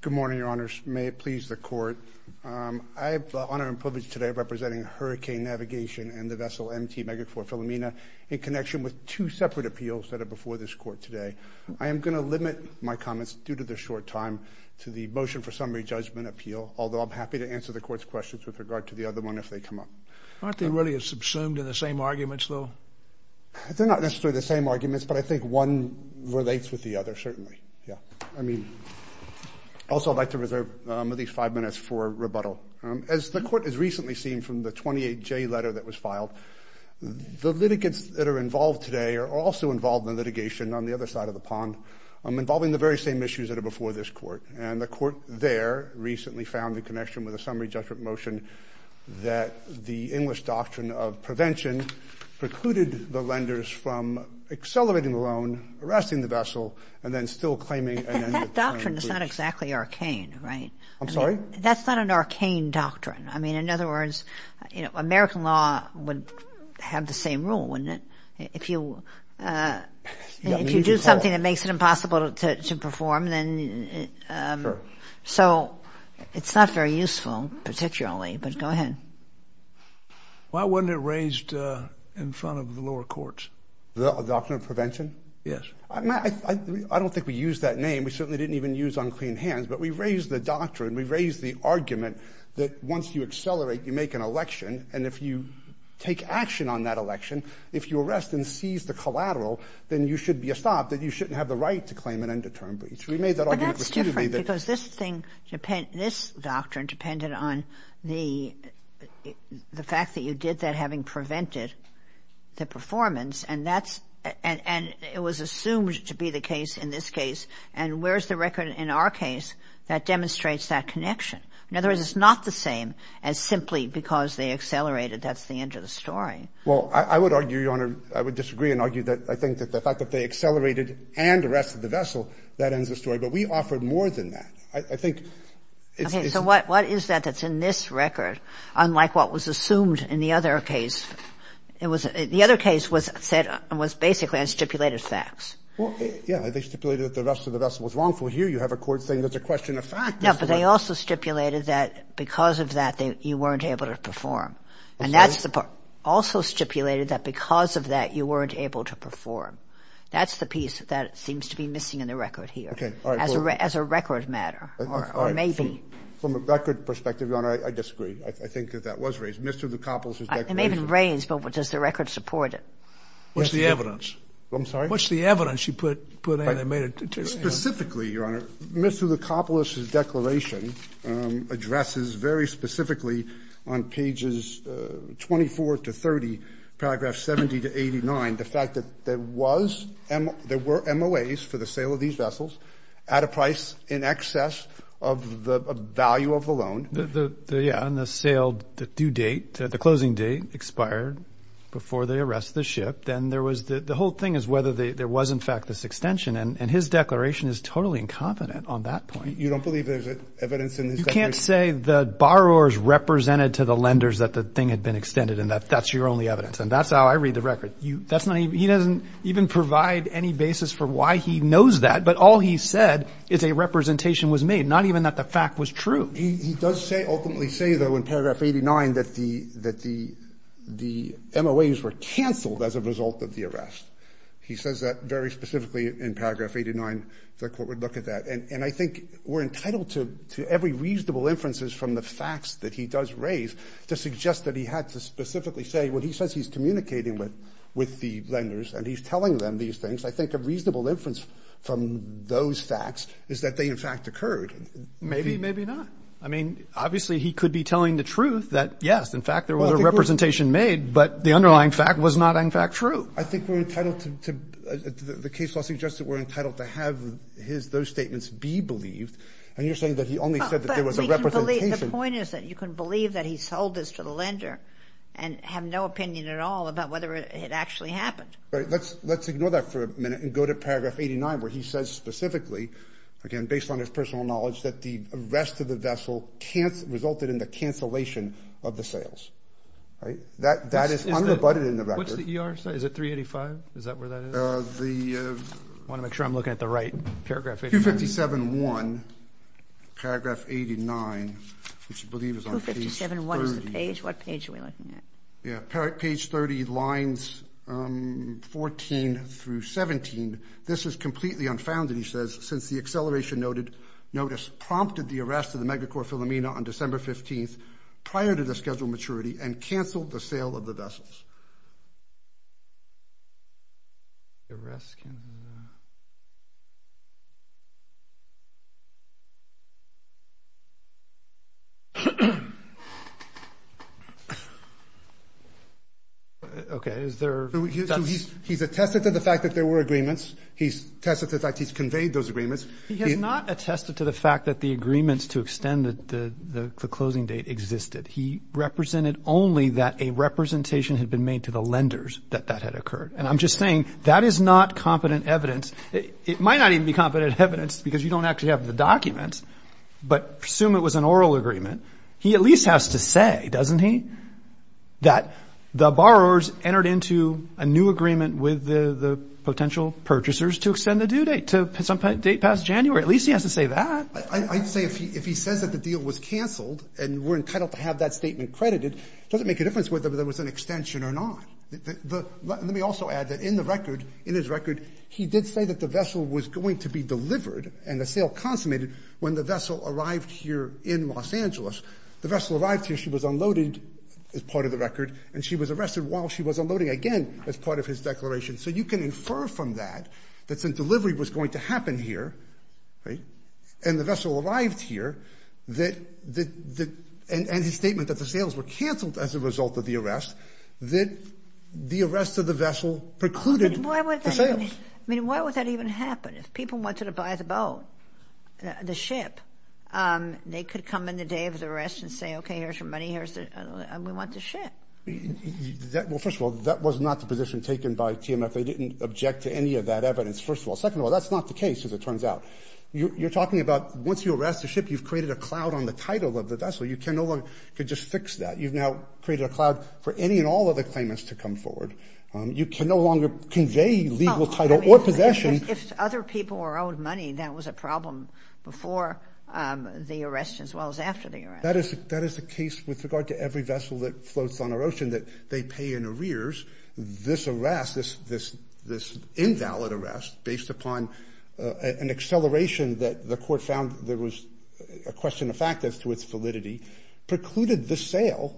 Good morning, Your Honors. May it please the Court, I have the honor and privilege today of representing Hurricane Navigation and the vessel M.T. Megacore Philomena in connection with two separate appeals that are before this Court today. I am going to limit my comments due to the short time to the motion for summary judgment appeal, although I'm happy to answer the Court's questions with regard to the other one if they come up. Aren't they really subsumed in the same arguments, though? They're not necessarily the same arguments, but I think one relates with the other, certainly. Yeah. I mean, also I'd like to reserve at least five minutes for rebuttal. As the Court has recently seen from the 28-J letter that was filed, the litigants that are involved today are also involved in litigation on the other side of the pond involving the very same issues that are before this Court. And the Court there recently found in connection with the summary judgment motion that the English doctrine of prevention precluded the lenders from accelerating the loan, arresting the vessel, and then still claiming an end to the claim. That doctrine is not exactly arcane, right? I'm sorry? That's not an arcane doctrine. I mean, in other words, you know, American law would have the same rule, wouldn't it? If you do something that makes it impossible to perform, then, so it's not very useful, particularly, but go ahead. Why wasn't it raised in front of the lower courts? The doctrine of prevention? Yes. I don't think we used that name. We certainly didn't even use unclean hands, but we raised the doctrine, we raised the argument that once you accelerate, you make an election, and if you take action on that election, if you arrest and seize the collateral, then you should be stopped, that you shouldn't have the right to claim an end to term breach. We made that argument. But that's different, because this thing, this doctrine depended on the fact that you did that having prevented the performance, and it was assumed to be the case in this case, and where's the record in our case that demonstrates that connection? In other words, it's not the same as simply because they accelerated, that's the end of the story. Well, I would argue, Your Honor, I would disagree and argue that I think that the fact that they accelerated and arrested the vessel, that ends the story. But we offered more than that. I think it's the same. Okay. So what is that that's in this record, unlike what was assumed in the other case? It was the other case was said and was basically on stipulated facts. Well, yeah, they stipulated that the rest of the vessel was wrongful. Here you have a court saying that's a question of fact. No, but they also stipulated that because of that, you weren't able to perform. And that's also stipulated that because of that, you weren't able to perform. That's the piece that seems to be missing in the record here as a record matter, or maybe. From a record perspective, Your Honor, I disagree. I think that that was raised. Mr. DeCoppos has declared it. It may have been raised, but does the record support it? What's the evidence? I'm sorry? What's the evidence you put in that made it? Specifically, Your Honor, Mr. DeCoppos' declaration addresses very specifically on pages 24 to 30, paragraph 70 to 89, the fact that there was, there were MOAs for the sale of these vessels at a price in excess of the value of the loan. The, yeah, on the sale, the due date, the closing date expired before they arrest the ship. Then there was the whole thing is whether there was in fact this extension. And his declaration is totally incompetent on that point. You don't believe there's evidence in this? You can't say the borrowers represented to the lenders that the thing had been extended and that that's your only evidence. And that's how I read the record. You, that's not even, he doesn't even provide any basis for why he knows that. But all he said is a representation was made, not even that the fact was true. He does say, ultimately say though, in paragraph 89 that the, that the, the MOAs were canceled as a result of the arrest. He says that very specifically in paragraph 89, the court would look at that. And I think we're entitled to, to every reasonable inferences from the facts that he does raise to suggest that he had to specifically say, well, he says he's communicating with, with the lenders and he's telling them these things. I think a reasonable inference from those facts is that they in fact occurred. Maybe, maybe not. I mean, obviously he could be telling the truth that yes, in fact, there was a representation made, but the underlying fact was not in fact true. I think we're entitled to the case law suggests that we're entitled to have his, those statements be believed. And you're saying that he only said that there was a representation. The point is that you can believe that he sold this to the lender and have no opinion at all about whether it actually happened. Right. Let's, let's ignore that for a minute and go to paragraph 89, where he says specifically, again, based on his personal knowledge, that the rest of the vessel can't resulted in the cancellation of the sales, right? That, that is unabutted in the record. What's the ER size? Is it 385? Is that where that is? Uh, the, uh, I want to make sure I'm looking at the right paragraph. 257.1 paragraph 89, which I believe is on page 30. 257.1 is the page, what page are we looking at? Yeah, page 30 lines, um, 14 through 17. This is completely unfounded. He says, since the acceleration noted notice prompted the arrest of the mega core Philomena on December 15th, prior to the schedule maturity and canceled the sale of the vessels. Okay. Is there. He's attested to the fact that there were agreements. He's tested the fact he's conveyed those agreements. He has not attested to the fact that the agreements to extend the, the, the closing date existed. He represented only that a representation had been made to the lenders that that had occurred. And I'm just saying that is not competent evidence. It might not even be competent evidence because you don't actually have the documents, but assume it was an oral agreement. He at least has to say, doesn't he, that the borrowers entered into a new agreement with the potential purchasers to extend the due date to some date past January. At least he has to say that. I'd say if he, if he says that the deal was canceled and we're entitled to have that statement credited, it doesn't make a difference whether there was an extension or not. The, let me also add that in the record, in his record, he did say that the vessel was going to be delivered and the sale consummated when the vessel arrived here in Los Angeles, the vessel arrived here, she was unloaded as part of the record and she was arrested while she was unloading again as part of his declaration. So you can infer from that, that since delivery was going to happen here, right? And the vessel arrived here that, that, that, and, and his statement that the sales were canceled as a result of the arrest, that the arrest of the vessel precluded the sales. I mean, why would that even happen? If people wanted to buy the boat, the ship, they could come in the day of the arrest and say, okay, here's your money. Here's the, we want the ship. Well, first of all, that was not the position taken by TMF. They didn't object to any of that evidence. First of all, second of all, that's not the case. As it turns out, you're talking about once you arrest the ship, you've created a cloud on the title of the vessel. You can no longer could just fix that. You've now created a cloud for any and all of the claimants to come forward. You can no longer convey legal title or possession. If other people were owed money, that was a problem before the arrest as well as after the arrest. That is, that is the case with regard to every vessel that floats on our ocean that they pay in arrears. This arrest, this, this, this invalid arrest based upon an acceleration that the court found there was a question of fact as to its validity precluded the sale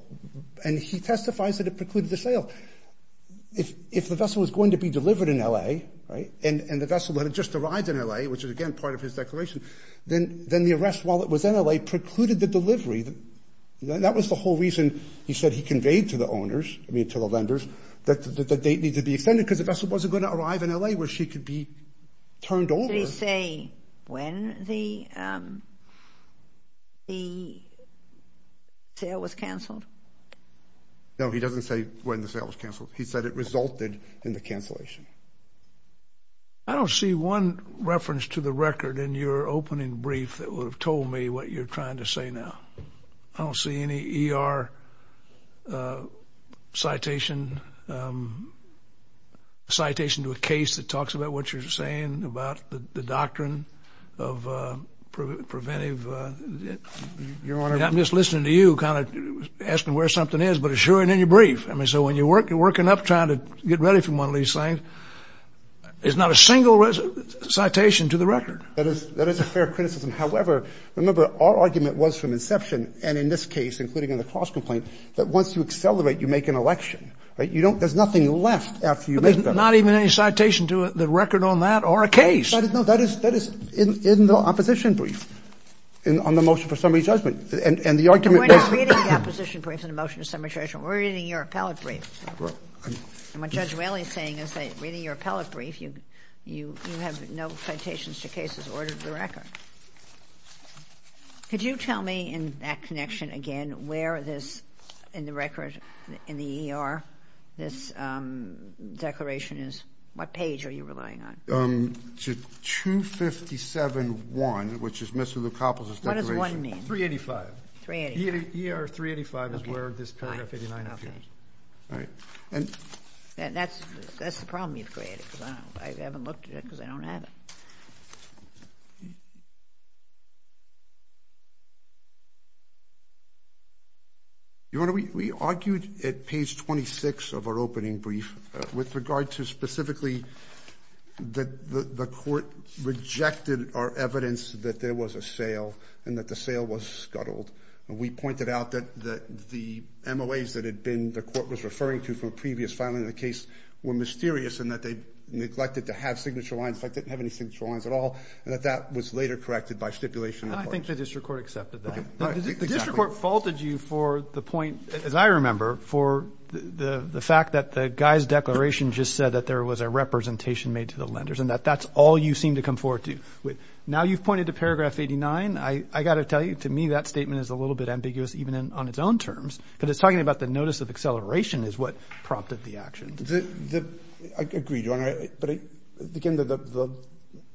and he testifies that it precluded the sale if, if the vessel was going to be delivered in LA, right? And, and the vessel that had just arrived in LA, which is again, part of his declaration, then, then the arrest while it was in LA precluded the delivery. That was the whole reason he said he conveyed to the owners, I mean, to the vendors that the date needs to be extended because the vessel wasn't going to arrive in LA where she could be turned over. Did he say when the, um, the sale was canceled? No, he doesn't say when the sale was canceled. He said it resulted in the cancellation. I don't see one reference to the record in your opening brief that would have told me what you're trying to say. Now, I don't see any ER, uh, citation, um, citation to a case that talks about what you're saying about the doctrine of, uh, preventive, uh, you're on it. I'm just listening to you kind of asking where something is, but assuring in your trying to get ready for one of these things is not a single citation to the record. That is, that is a fair criticism. However, remember our argument was from inception. And in this case, including in the cross complaint, that once you accelerate, you make an election, right? You don't, there's nothing left after you make not even any citation to the record on that or a case. I didn't know that is, that is in the opposition brief and on the motion for summary judgment and the argument. We're not reading the opposition brief in the motion to summary judgment. We're reading your appellate brief. And what Judge Whaley is saying is that reading your appellate brief, you, you, you have no citations to cases ordered to the record. Could you tell me in that connection again, where this in the record, in the ER, this, um, declaration is, what page are you relying on? Um, to 257.1, which is Mr. Lukopoulos' declaration. What does one mean? 385. 385. ER 385 is where this paragraph 89 appears. Right. And that's, that's the problem you've created because I haven't looked at it because I don't have it. Your Honor, we, we argued at page 26 of our opening brief, uh, with regard to specifically that the, the court rejected our evidence that there was a sale and that the sale was scuttled. And we pointed out that, that the MOAs that had been, the court was referring to from a previous filing of the case were mysterious in that they neglected to have signature lines, like they didn't have any signature lines at all. And that that was later corrected by stipulation. And I think the district court accepted that. Okay. The district court faulted you for the point, as I remember, for the, the fact that the guy's declaration just said that there was a representation made to the lenders and that that's all you seem to come forward to. Now you've pointed to paragraph 89. I, I got to tell you, to me, that statement is a little bit ambiguous, even in, on its own terms. Because it's talking about the notice of acceleration is what prompted the action. The, the, I agree, Your Honor, but again, the, the,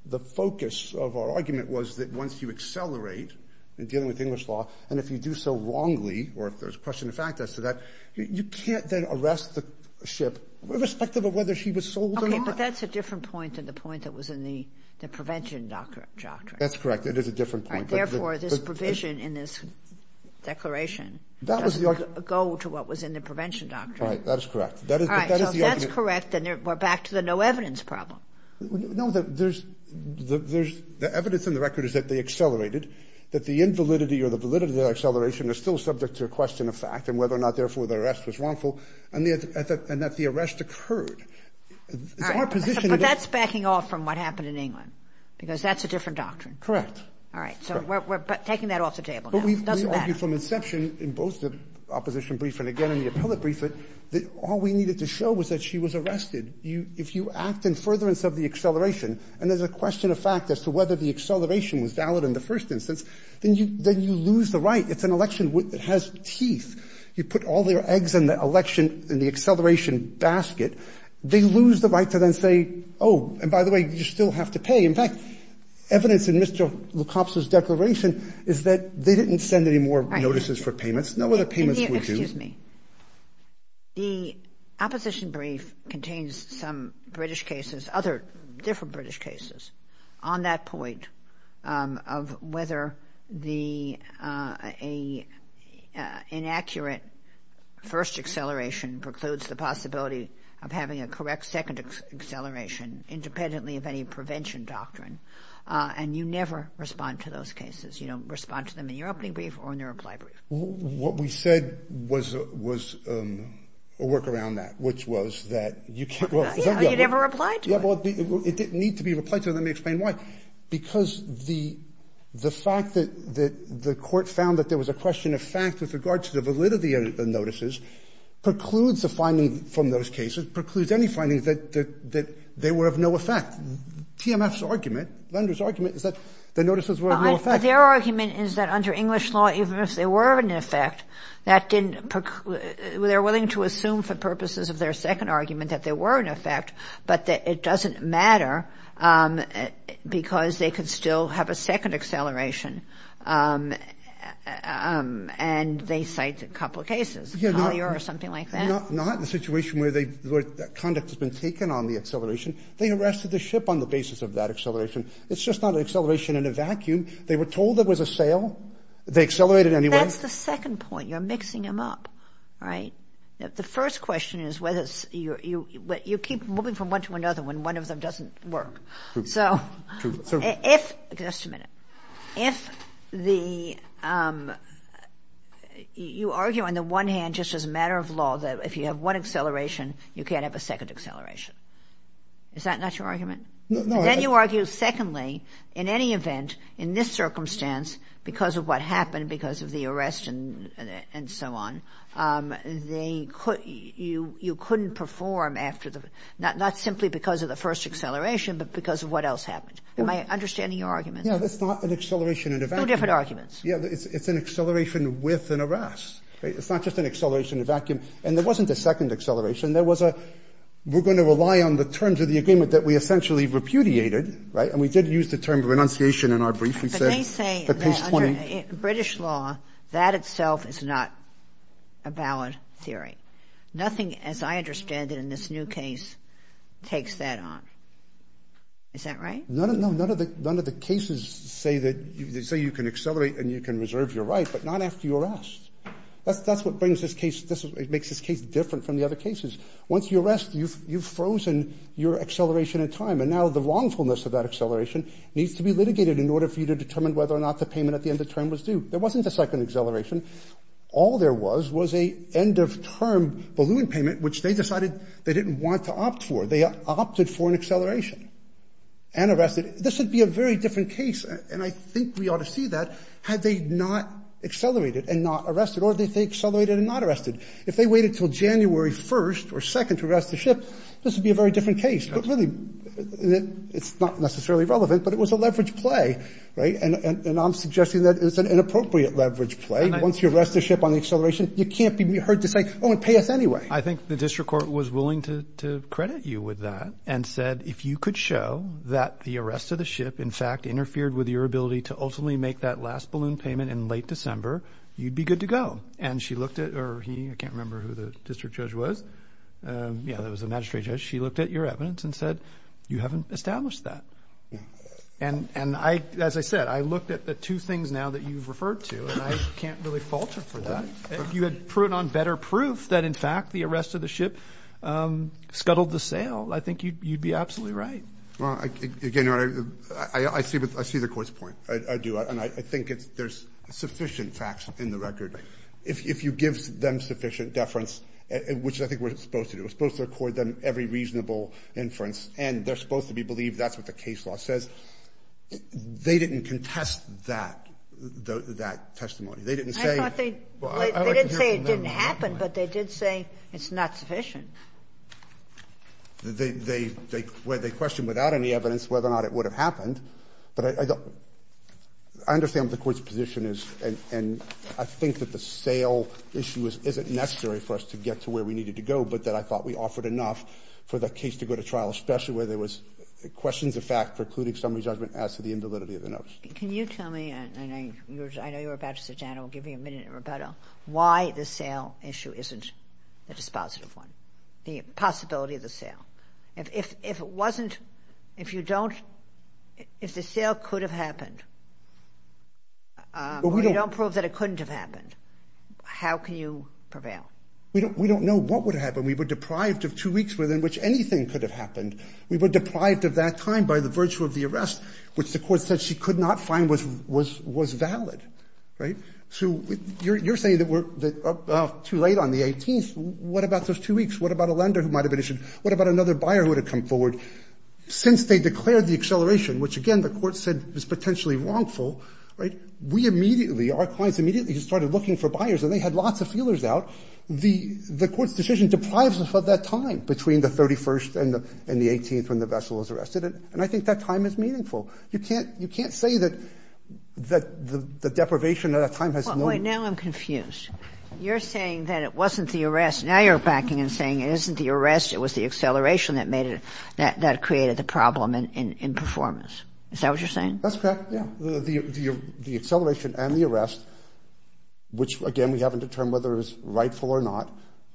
the focus of our argument was that once you accelerate in dealing with English law, and if you do so wrongly, or if there's question of fact as to that, you can't then arrest the ship irrespective of whether she was sold or not. But that's a different point than the point that was in the, the prevention doctrine. That's correct. It is a different point. Therefore, this provision in this declaration. That was the argument. Doesn't go to what was in the prevention doctrine. Right. That is correct. That is, that is the argument. That's correct. And we're back to the no evidence problem. No, there's, there's, the evidence in the record is that they accelerated, that the invalidity or the validity of the acceleration is still subject to a question of fact and whether or not therefore the arrest was wrongful. And the, and that the arrest occurred. It's our position. But that's backing off from what happened in England, because that's a different doctrine. Correct. All right. So we're, we're taking that off the table. But we've argued from inception in both the opposition brief and again, in the appellate brief, that all we needed to show was that she was arrested. You, if you act in furtherance of the acceleration, and there's a question of fact as to whether the acceleration was valid in the first instance, then you, then you lose the right. It's an election that has teeth. You put all their eggs in the election, in the acceleration basket. They lose the right to then say, oh, and by the way, you still have to pay. In fact, evidence in Mr. Le Copse's declaration is that they didn't send any more notices for payments. No other payments were due. Excuse me. The opposition brief contains some British cases, other different British cases on that point of whether the, a inaccurate first acceleration precludes the possibility of having a correct second acceleration independently of any prevention doctrine. And you never respond to those cases. You don't respond to them in your opening brief or in your reply brief. What we said was, was a work around that, which was that you can't, well, you never replied to it. Well, it didn't need to be replied to. Let me explain why. Because the, the fact that, that the court found that there was a question of fact with regard to the validity of the notices precludes the finding from those cases, precludes any findings that, that, that they were of no effect. TMF's argument, Lender's argument is that the notices were of no effect. Their argument is that under English law, even if they were of an effect, that didn't, they're willing to assume for purposes of their second argument that there were an effect, but that it doesn't matter because they could still have a second acceleration. And they cite a couple of cases, Collier or something like that. Not in a situation where they, where conduct has been taken on the ship on the basis of that acceleration. It's just not an acceleration in a vacuum. They were told there was a sale. They accelerated anyway. That's the second point. You're mixing them up. Right? The first question is whether you, you, you keep moving from one to another when one of them doesn't work. So if, just a minute, if the, you argue on the one hand, just as a matter of law, that if you have one acceleration, you can't have a second acceleration. Is that not your argument? Then you argue secondly, in any event, in this circumstance, because of what happened, because of the arrest and, and so on, they could, you, you couldn't perform after the, not, not simply because of the first acceleration, but because of what else happened. Am I understanding your argument? Yeah. That's not an acceleration in a vacuum. Two different arguments. Yeah. It's, it's an acceleration with an arrest, right? It's not just an acceleration in a vacuum. And there wasn't a second acceleration. And there was a, we're going to rely on the terms of the agreement that we essentially repudiated, right? And we did use the term renunciation in our brief. We said, the case 20. But they say that under British law, that itself is not a valid theory. Nothing, as I understand it in this new case, takes that on. Is that right? No, no, no. None of the, none of the cases say that you, they say you can accelerate and you can reserve your right, but not after you're arrest. That's, that's what brings this case, this, it makes this case different from the other cases, once you arrest, you've, you've frozen your acceleration in time. And now the wrongfulness of that acceleration needs to be litigated in order for you to determine whether or not the payment at the end of term was due. There wasn't a second acceleration. All there was, was a end of term balloon payment, which they decided they didn't want to opt for. They opted for an acceleration and arrested. This would be a very different case. And I think we ought to see that had they not accelerated and not arrested or they accelerated and not arrested. If they waited until January 1st or 2nd to arrest the ship, this would be a very different case, but really it's not necessarily relevant, but it was a leverage play, right? And I'm suggesting that it's an inappropriate leverage play. Once you arrest the ship on the acceleration, you can't be heard to say, oh, it payeth anyway. I think the district court was willing to credit you with that and said, if you could show that the arrest of the ship, in fact, interfered with your ability to ultimately make that last balloon payment in late December, you'd be good to go. And she looked at, or he, I can't remember who the district judge was. Yeah, that was the magistrate judge. She looked at your evidence and said, you haven't established that. And, and I, as I said, I looked at the two things now that you've referred to, and I can't really falter for that. You had put on better proof that in fact, the arrest of the ship scuttled the sail. I think you'd, you'd be absolutely right. Well, I, again, I see, I see the court's point. I do. And I think it's, there's sufficient facts in the record. If you give them sufficient deference, which I think we're supposed to do, we're supposed to record them every reasonable inference, and they're supposed to be believed that's what the case law says, they didn't contest that, that testimony. They didn't say. I thought they, they didn't say it didn't happen, but they did say it's not sufficient. They, they, they, where they questioned without any evidence whether or not it would have happened, but I, I don't, I understand the court's position is, and, and I think that the sail issue is, isn't necessary for us to get to where we needed to go, but that I thought we offered enough for the case to go to trial, especially where there was questions of fact, precluding summary judgment as to the invalidity of the notes. Can you tell me, and I know you were about to sit down, I'll give you a minute in rebuttal, why the sail issue isn't the dispositive one, the possibility of the sail. If, if it wasn't, if you don't, if the sail could have happened, or you don't prove that it couldn't have happened, how can you prevail? We don't, we don't know what would happen. We were deprived of two weeks within which anything could have happened. We were deprived of that time by the virtue of the arrest, which the court said she could not find was, was, was valid, right? So you're, you're saying that we're too late on the 18th, what about those two weeks? What about a lender who might have been issued? What about another buyer who would have come forward? Since they declared the acceleration, which again the court said is potentially wrongful, right, we immediately, our clients immediately just started looking for buyers and they had lots of feelers out, the, the court's decision deprives us of that time between the 31st and the, and the 18th when the vessel is arrested, and I think that time is meaningful. You can't, you can't say that, that the deprivation of that time has no. Wait, now I'm confused. You're saying that it wasn't the arrest, now you're backing and saying it isn't the arrest, it was the acceleration that made it, that, that created the problem in, in, in performance, is that what you're saying? That's correct, yeah, the, the, the acceleration and the arrest, which again we haven't determined whether it was rightful or not,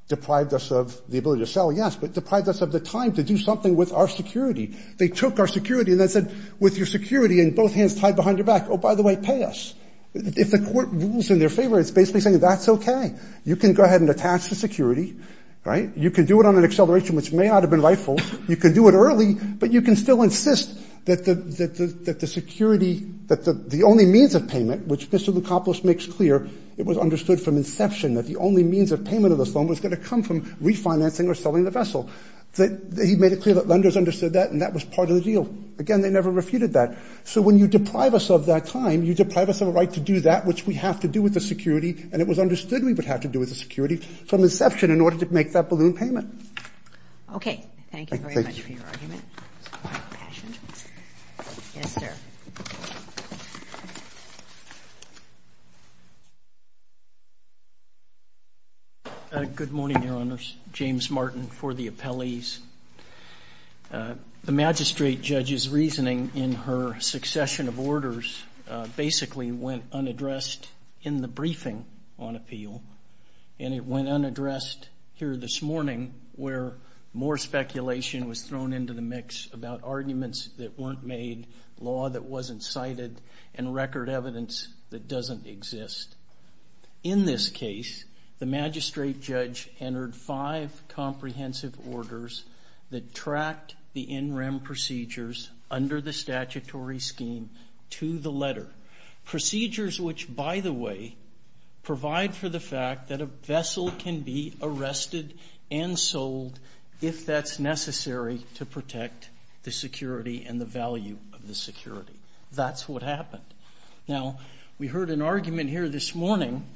deprived us of the ability to sell, yes, but deprived us of the time to do something with our security. They took our security and then said with your security and both hands tied behind your back, oh, by the way, pay us. If the court rules in their favor, it's basically saying that's okay. You can go ahead and attach the security, right? You can do it on an acceleration, which may not have been rightful. You can do it early, but you can still insist that the, that the, that the security, that the, the only means of payment, which Mr. Lukopulos makes clear, it was understood from inception that the only means of payment of this loan was going to come from refinancing or selling the vessel. That he made it clear that lenders understood that, and that was part of the deal. Again, they never refuted that. So when you deprive us of that time, you deprive us of a right to do that, which we have to do with the security, and it was understood we would have to do with the security from inception in order to make that balloon payment. Okay. Thank you very much for your argument. Yes, sir. Good morning, Your Honors. James Martin for the appellees. Uh, the magistrate judge's reasoning in her succession of orders, uh, basically went unaddressed in the briefing on appeal. And it went unaddressed here this morning, where more speculation was thrown into the mix about arguments that weren't made, law that wasn't cited, and record evidence that doesn't exist. In this case, the magistrate judge entered five comprehensive orders that tracked the in rem procedures under the statutory scheme to the letter. Procedures which, by the way, provide for the fact that a vessel can be arrested and sold if that's necessary to protect the security and the value of the security. That's what happened. Now, we heard an argument here this morning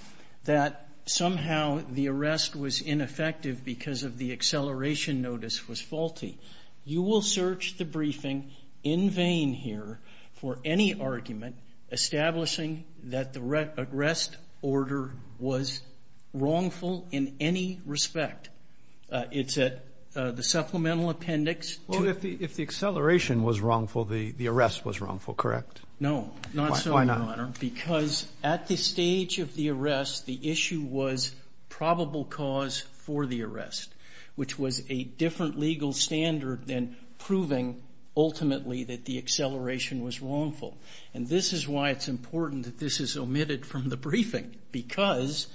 that somehow the arrest was ineffective because of the acceleration notice was faulty. You will search the briefing in vain here for any argument establishing that the arrest order was wrongful in any respect. Uh, it's at, uh, the supplemental appendix. Well, if the, if the acceleration was wrongful, the arrest was wrongful, correct? No, not so, Your Honor, because at this stage of the arrest, the issue was probable cause for the arrest, which was a different legal standard than proving ultimately that the acceleration was wrongful. And this is why it's important that this is omitted from the briefing because,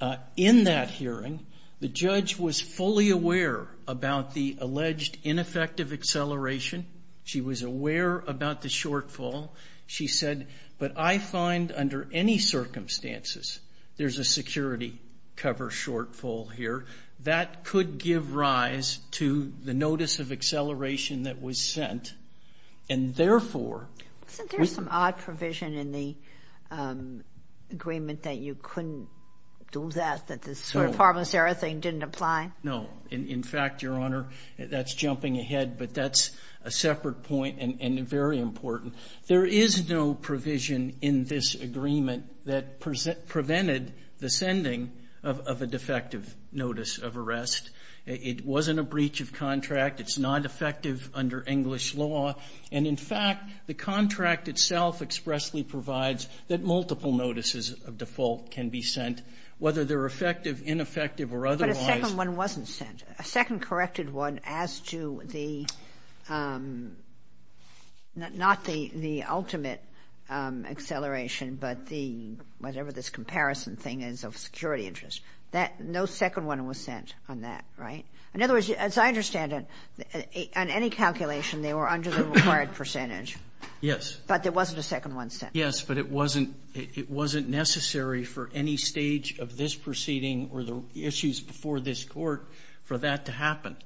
uh, in that hearing, the judge was fully aware about the alleged ineffective acceleration. She was aware about the shortfall. She said, but I find under any circumstances, there's a security cover shortfall here that could give rise to the notice of acceleration that was sent. And therefore... Isn't there some odd provision in the, um, agreement that you couldn't do that, that this sort of pharmaceutical thing didn't apply? No. In fact, Your Honor, that's jumping ahead, but that's a separate point and very important. There is no provision in this agreement that present prevented the sending of a defective notice of arrest. It wasn't a breach of contract. It's not effective under English law. And in fact, the contract itself expressly provides that multiple notices of default can be sent, whether they're effective, ineffective, or otherwise. But a second one wasn't sent. A second corrected one as to the, um, not the, the ultimate, um, acceleration, but the, whatever this comparison thing is of security interest. That no second one was sent on that, right? In other words, as I understand it, on any calculation, they were under the required percentage. Yes. But there wasn't a second one sent. Yes, but it wasn't, it wasn't necessary for any stage of this proceeding or the issues before this court for that to happen.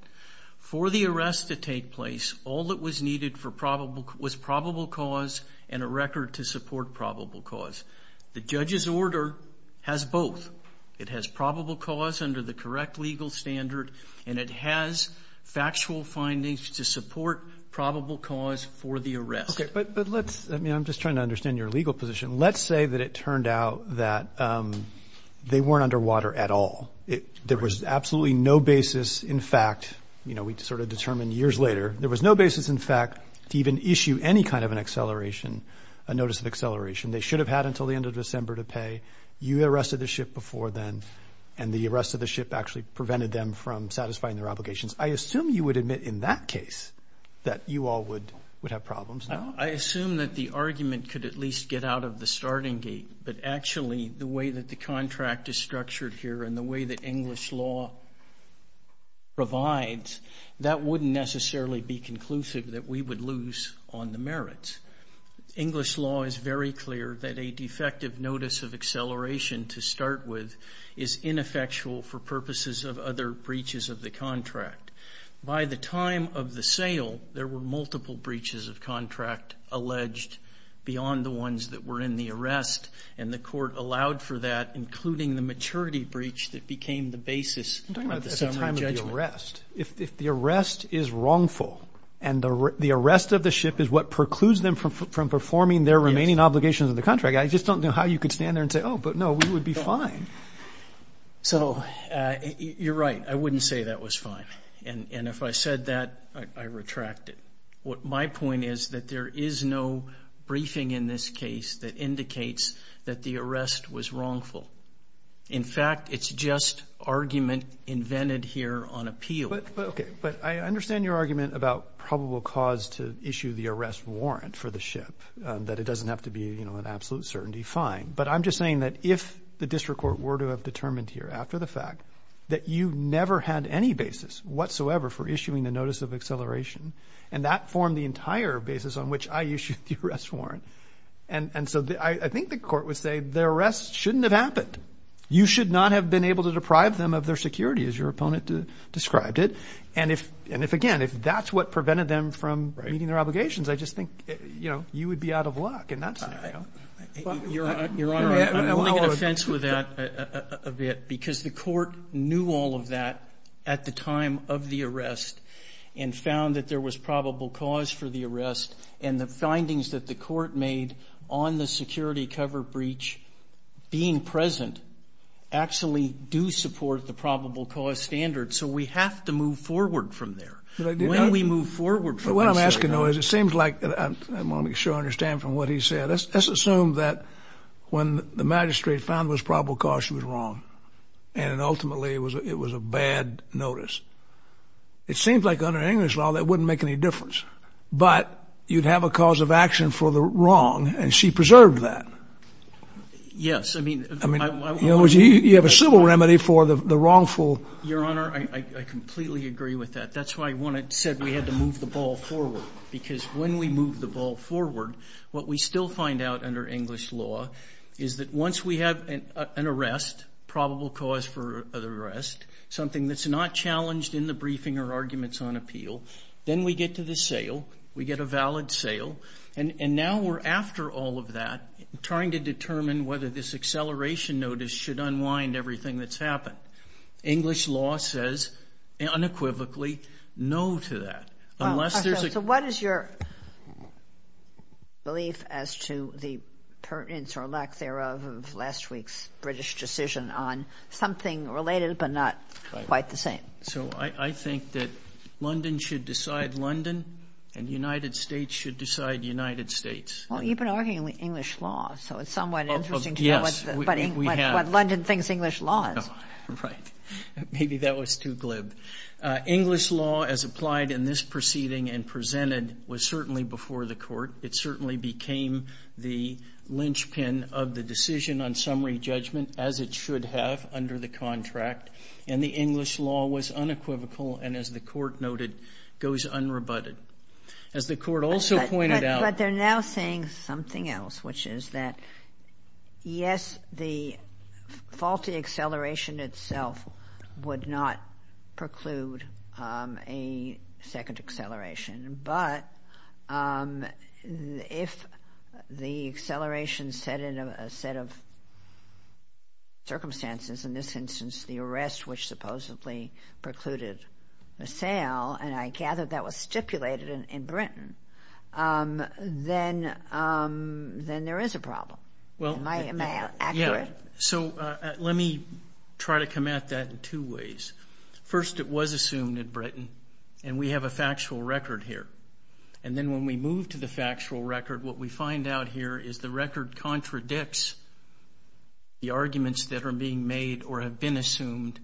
For the arrest to take place, all that was needed for probable, was probable cause and a record to support probable cause. The judge's order has both. It has probable cause under the correct legal standard, and it has factual findings to support probable cause for the arrest. Okay. But, but let's, I mean, I'm just trying to understand your legal position. Let's say that it turned out that, um, they weren't underwater at all. It, there was absolutely no basis. In fact, you know, we sort of determined years later, there was no basis. In fact, to even issue any kind of an acceleration, a notice of acceleration, they should have had until the end of December to pay. You arrested the ship before then. And the arrest of the ship actually prevented them from satisfying their obligations. I assume you would admit in that case that you all would, would have problems. I assume that the argument could at least get out of the starting gate, but actually the way that the contract is structured here and the way that English law provides, that wouldn't necessarily be conclusive that we would lose on the merits. English law is very clear that a defective notice of acceleration to start with is ineffectual for purposes of other breaches of the contract. By the time of the sale, there were multiple breaches of contract alleged beyond the ones that were in the arrest. And the court allowed for that, including the maturity breach that became the basis of the summary judgment. I'm talking about at the time of the arrest. If the arrest is wrongful and the arrest of the ship is what precludes them from performing their remaining obligations of the contract, I just don't know how you could stand there and say, oh, but no, we would be fine. So you're right. I wouldn't say that was fine. And if I said that, I retract it. What my point is that there is no briefing in this case that indicates that the arrest was wrongful. In fact, it's just argument invented here on appeal. But OK, but I understand your argument about probable cause to issue the arrest warrant for the ship, that it doesn't have to be an absolute certainty fine. But I'm just saying that if the district court were to have determined here after the fact that you never had any basis whatsoever for issuing the notice of acceleration and that formed the entire basis on which I issued the arrest warrant. And so I think the court would say the arrest shouldn't have happened. You should not have been able to deprive them of their security as your opponent described it. And if and if again, if that's what prevented them from meeting their obligations, I just think, you know, you would be out of luck in that scenario. Your Honor, I'm only going to fence with that a bit because the court knew all of that at the time of the arrest and found that there was probable cause for the arrest and the findings that the court made on the security cover breach being present actually do support the probable cause standard. So we have to move forward from there when we move forward. What I'm asking, though, is it seems like I want to make sure I understand from what he said, let's assume that when the magistrate found was probable cause she was wrong and ultimately it was it was a bad notice. It seems like under English law that wouldn't make any difference. But you'd have a cause of action for the wrong. And she preserved that. Yes. I mean, you have a civil remedy for the wrongful. Your Honor, I completely agree with that. That's why I wanted said we had to move the ball forward because when we move the ball forward, what we still find out under English law is that once we have an arrest, probable cause for arrest, something that's not challenged in the briefing or arguments on appeal, then we get to the sale, we get a valid sale. And now we're after all of that, trying to determine whether this acceleration notice should unwind everything that's happened. English law says unequivocally no to that unless there's a what is your. Belief as to the pertinence or lack thereof of last week's British decision on something related, but not quite the same. So I think that London should decide London and United States should decide United States. Well, you've been arguing with English law, so it's somewhat interesting to know what London thinks English law is. Right. Maybe that was too glib. English law as applied in this proceeding and presented was certainly before the court. It certainly became the linchpin of the decision on summary judgment as it should have under the contract. And the English law was unequivocal. And as the court noted, goes unrebutted as the court also pointed out. But they're now saying something else, which is that, yes, the faulty acceleration itself would not preclude a second acceleration. But if the acceleration set in a set of circumstances, in this instance, the arrest, which supposedly precluded the sale, and I gather that was stipulated in Britain, then there is a problem. Well, am I accurate? So let me try to come at that in two ways. First, it was assumed in Britain and we have a factual record here. And then when we move to the factual record, what we find out here is the record contradicts the arguments that are being made or have been assumed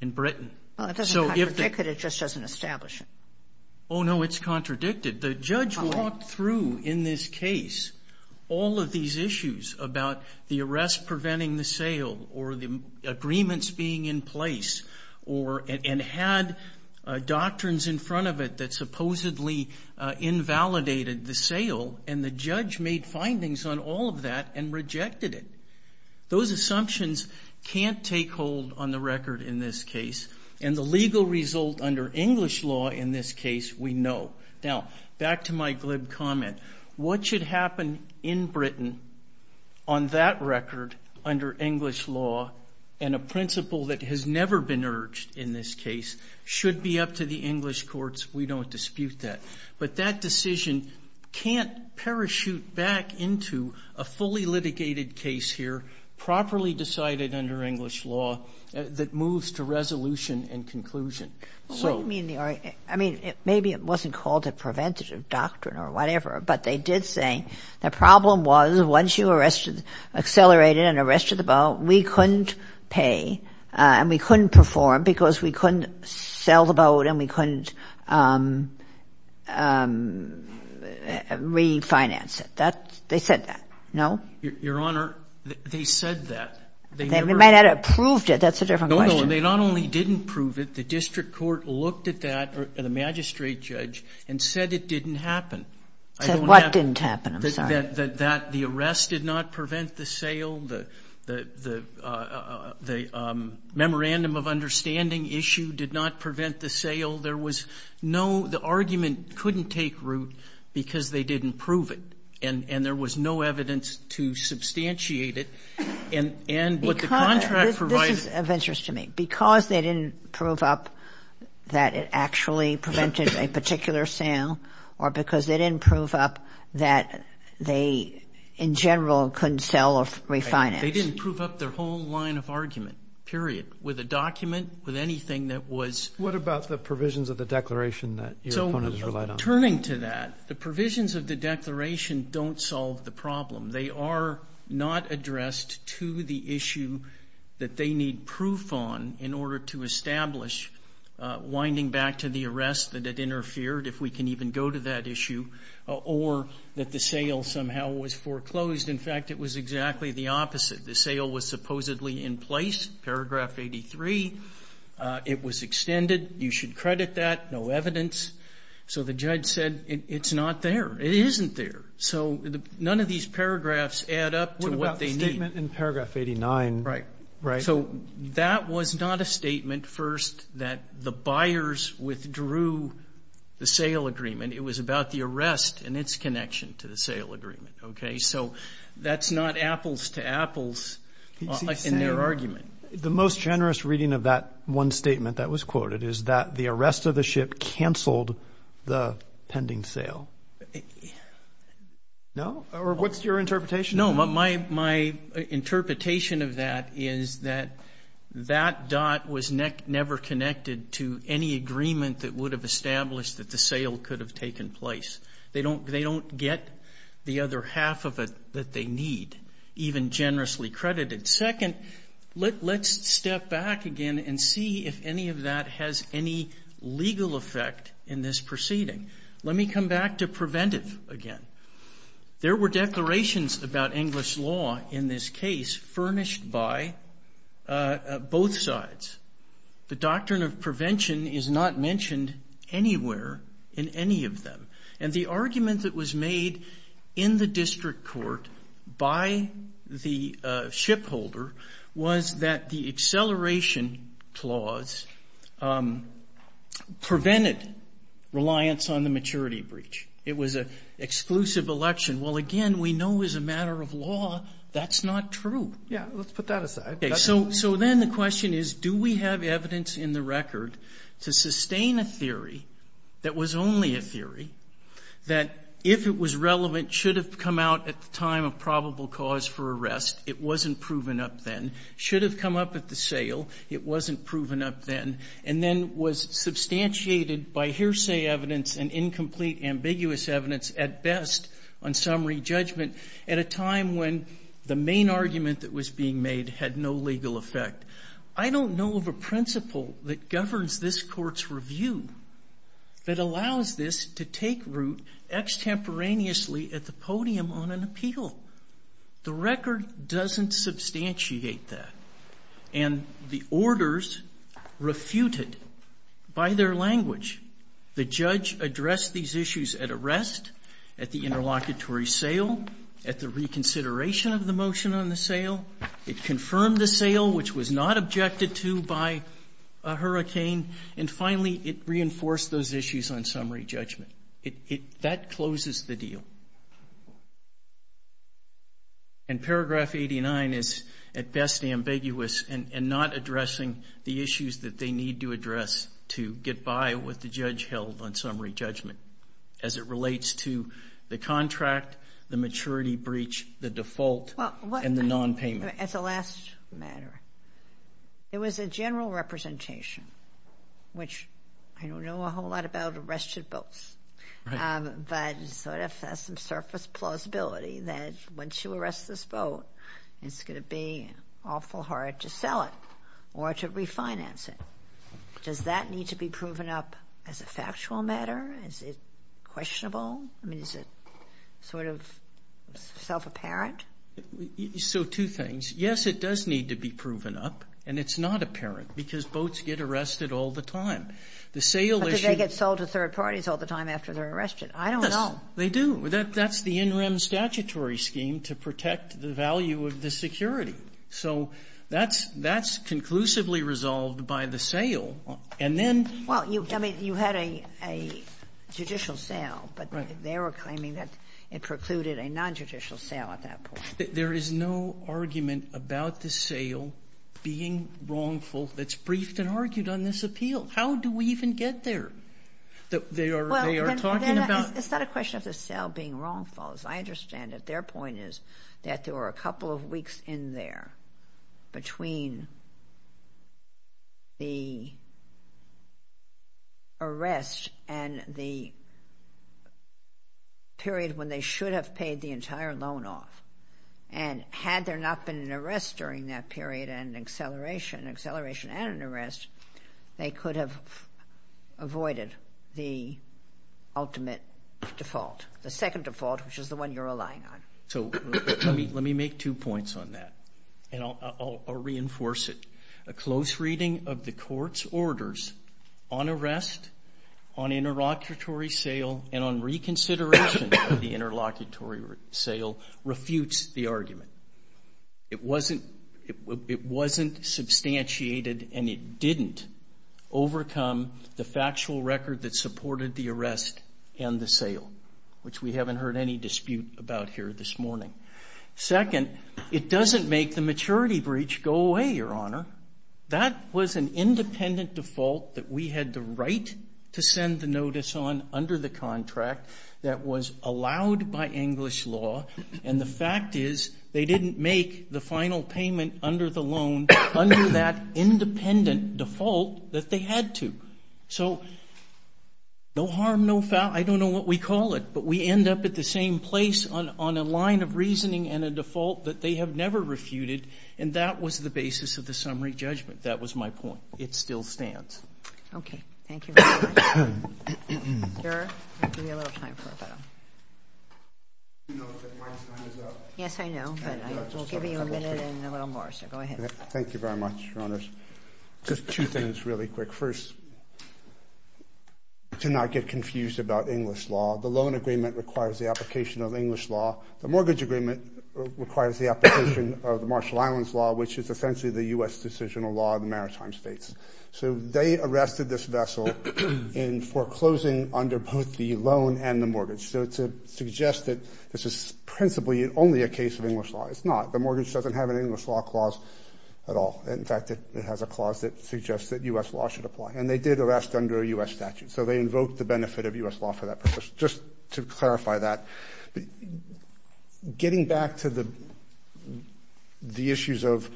in Britain. Well, it doesn't contradict it, it just doesn't establish it. Oh, no, it's contradicted. The judge walked through in this case all of these issues about the arrest preventing the sale or the agreements being in place and had doctrines in front of it that supposedly invalidated the sale. And the judge made findings on all of that and rejected it. Those assumptions can't take hold on the record in this case. And the legal result under English law in this case, we know. Now, back to my glib comment, what should happen in Britain on that record under English law and a principle that has never been urged in this case should be up to the English courts. We don't dispute that. But that decision can't parachute back into a fully litigated case here, properly decided under English law, that moves to resolution and conclusion. I mean, maybe it wasn't called a preventative doctrine or whatever, but they did say the problem was once you were arrested, accelerated and arrested the boat, we couldn't pay and we couldn't perform because we couldn't sell the boat and we couldn't refinance it. That, they said that, no? Your Honor, they said that. They might have approved it. That's a different question. They not only didn't prove it, the district court looked at that, the magistrate judge, and said it didn't happen. Said what didn't happen? I'm sorry. That the arrest did not prevent the sale. The memorandum of understanding issue did not prevent the sale. There was no, the argument couldn't take root because they didn't prove it. And there was no evidence to substantiate it. And what the contract provides- This is of interest to me. Because they didn't prove up that it actually prevented a particular sale or because they didn't prove up that they, in general, couldn't sell or refinance. They didn't prove up their whole line of argument, period, with a document, with anything that was- What about the provisions of the declaration that your opponent has relied on? So, turning to that, the provisions of the declaration don't solve the problem. They are not addressed to the issue that they need proof on in order to establish winding back to the arrest that it interfered, if we can even go to that issue, or that the sale somehow was foreclosed. In fact, it was exactly the opposite. The sale was supposedly in place, paragraph 83. It was extended. You should credit that. No evidence. So the judge said, it's not there. It isn't there. So, none of these paragraphs add up to what they need. What about the statement in paragraph 89? Right. Right. So, that was not a statement, first, that the buyers withdrew the sale agreement. It was about the arrest and its connection to the sale agreement, okay? So, that's not apples to apples in their argument. The most generous reading of that one statement that was quoted is that the arrest of the ship canceled the pending sale. No? Or what's your interpretation? No, my interpretation of that is that that dot was never connected to any agreement that would have established that the sale could have taken place. They don't get the other half of it that they need, even generously credited. Second, let's step back again and see if any of that has any legal effect in this proceeding. Let me come back to preventive again. There were declarations about English law in this case furnished by both sides. The doctrine of prevention is not mentioned anywhere in any of them. And the argument that was made in the district court by the shipholder was that the acceleration clause prevented reliance on the maturity breach. It was an exclusive election. Well, again, we know as a matter of law, that's not true. Yeah, let's put that aside. Okay, so then the question is, do we have evidence in the record to sustain a theory that was only a theory, that if it was relevant, should have come out at the time of probable cause for arrest, it wasn't proven up then, should have come up at the sale, it wasn't proven up then, and then was substantiated by hearsay evidence and incomplete ambiguous evidence at best on summary judgment at a time when the main argument that was being made had no legal effect. I don't know of a principle that governs this court's review that allows this to take root extemporaneously at the podium on an appeal. The record doesn't substantiate that. And the orders refuted by their language. The judge addressed these issues at arrest, at the interlocutory sale, at the reconsideration of the motion on the sale. It confirmed the sale, which was not objected to by a hurricane. And finally, it reinforced those issues on summary judgment. It, that closes the deal. And paragraph 89 is at best ambiguous and not addressing the issues that they need to address to get by with the judge held on summary judgment as it relates to the contract, the maturity breach, the default, and the non-payment. As a last matter, there was a general representation, which I don't know a whole lot about arrested votes, but sort of has some surface plausibility that once you arrest this vote, it's going to be awful hard to sell it or to refinance it. Does that need to be proven up as a factual matter? Is it questionable? I mean, is it sort of self-apparent? So two things. Yes, it does need to be proven up. And it's not apparent because votes get arrested all the time. The sale issue But do they get sold to third parties all the time after they're arrested? I don't know. They do. That's the in rem statutory scheme to protect the value of the security. So that's conclusively resolved by the sale. And then Well, you had a judicial sale. But they were claiming that it precluded a non-judicial sale at that point. There is no argument about the sale being wrongful that's briefed and argued on this appeal. How do we even get there? They are talking about It's not a question of the sale being wrongful. As I understand it, their point is that there were a couple of weeks in there between the arrest and the period when they should have paid the entire loan off. And had there not been an arrest during that period and an acceleration, acceleration and an arrest, they could have avoided the ultimate default. The second default, which is the one you're relying on. So let me make two points on that. And I'll reinforce it. A close reading of the court's orders on arrest, on interlocutory sale, and on reconsideration of the interlocutory sale refutes the argument. It wasn't substantiated and it didn't overcome the factual record that supported the arrest and the sale, which we haven't heard any dispute about here this morning. Second, it doesn't make the maturity breach go away, Your Honor. That was an independent default that we had the right to send the notice on under the contract that was allowed by English law. And the fact is they didn't make the final payment under the loan under that independent default that they had to. So no harm, no foul. I don't know what we call it, but we end up at the same place on a line of reasoning and a default that they have never refuted. And that was the basis of the summary judgment. That was my point. It still stands. Okay. Thank you very much. Sir, I'll give you a little time for a photo. Yes, I know, but I will give you a minute and a little more. So go ahead. Thank you very much, Your Honors. Just two things really quick. First, to not get confused about English law, the loan agreement requires the application of English law. The mortgage agreement requires the application of the Marshall Islands law, which is essentially the U.S. decisional law of the maritime states. So they arrested this vessel in foreclosing under both the loan and the mortgage. So to suggest that this is principally only a case of English law, it's not. The mortgage doesn't have an English law clause at all. In fact, it has a clause that suggests that U.S. law should apply. And they did arrest under a U.S. statute. So they invoked the benefit of U.S. law for that purpose. Just to clarify that, getting back to the issues of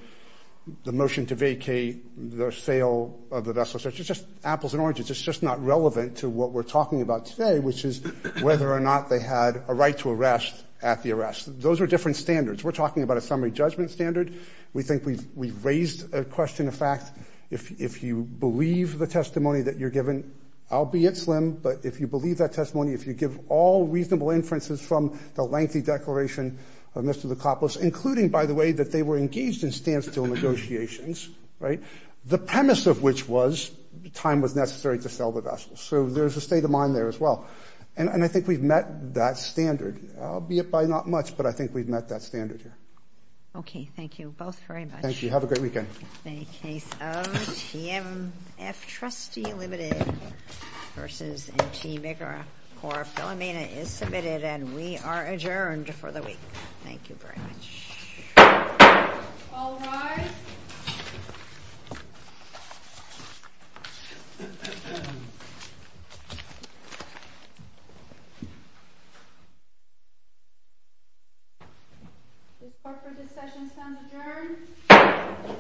the motion to vacate the sale of the vessel, it's just apples and oranges. It's just not relevant to what we're talking about today, which is whether or not they had a right to arrest at the arrest. Those are different standards. We're talking about a summary judgment standard. We think we've raised a question of fact. If you believe the testimony that you're given, I'll be it slim. But if you believe that testimony, if you give all reasonable inferences from the lengthy declaration of Mr. DiCaprio's, including, by the way, that they were engaged in standstill negotiations, right, the premise of which was time was necessary to sell the vessel. So there's a state of mind there as well. And I think we've met that standard, albeit by not much, but I think we've met that standard here. Okay, thank you both very much. Thank you. Have a great weekend. The case of TMF Trustee Limited versus MT Bigger Corp Philomena is submitted, and we are adjourned for the week. Thank you very much. All rise. This part of the session is now adjourned.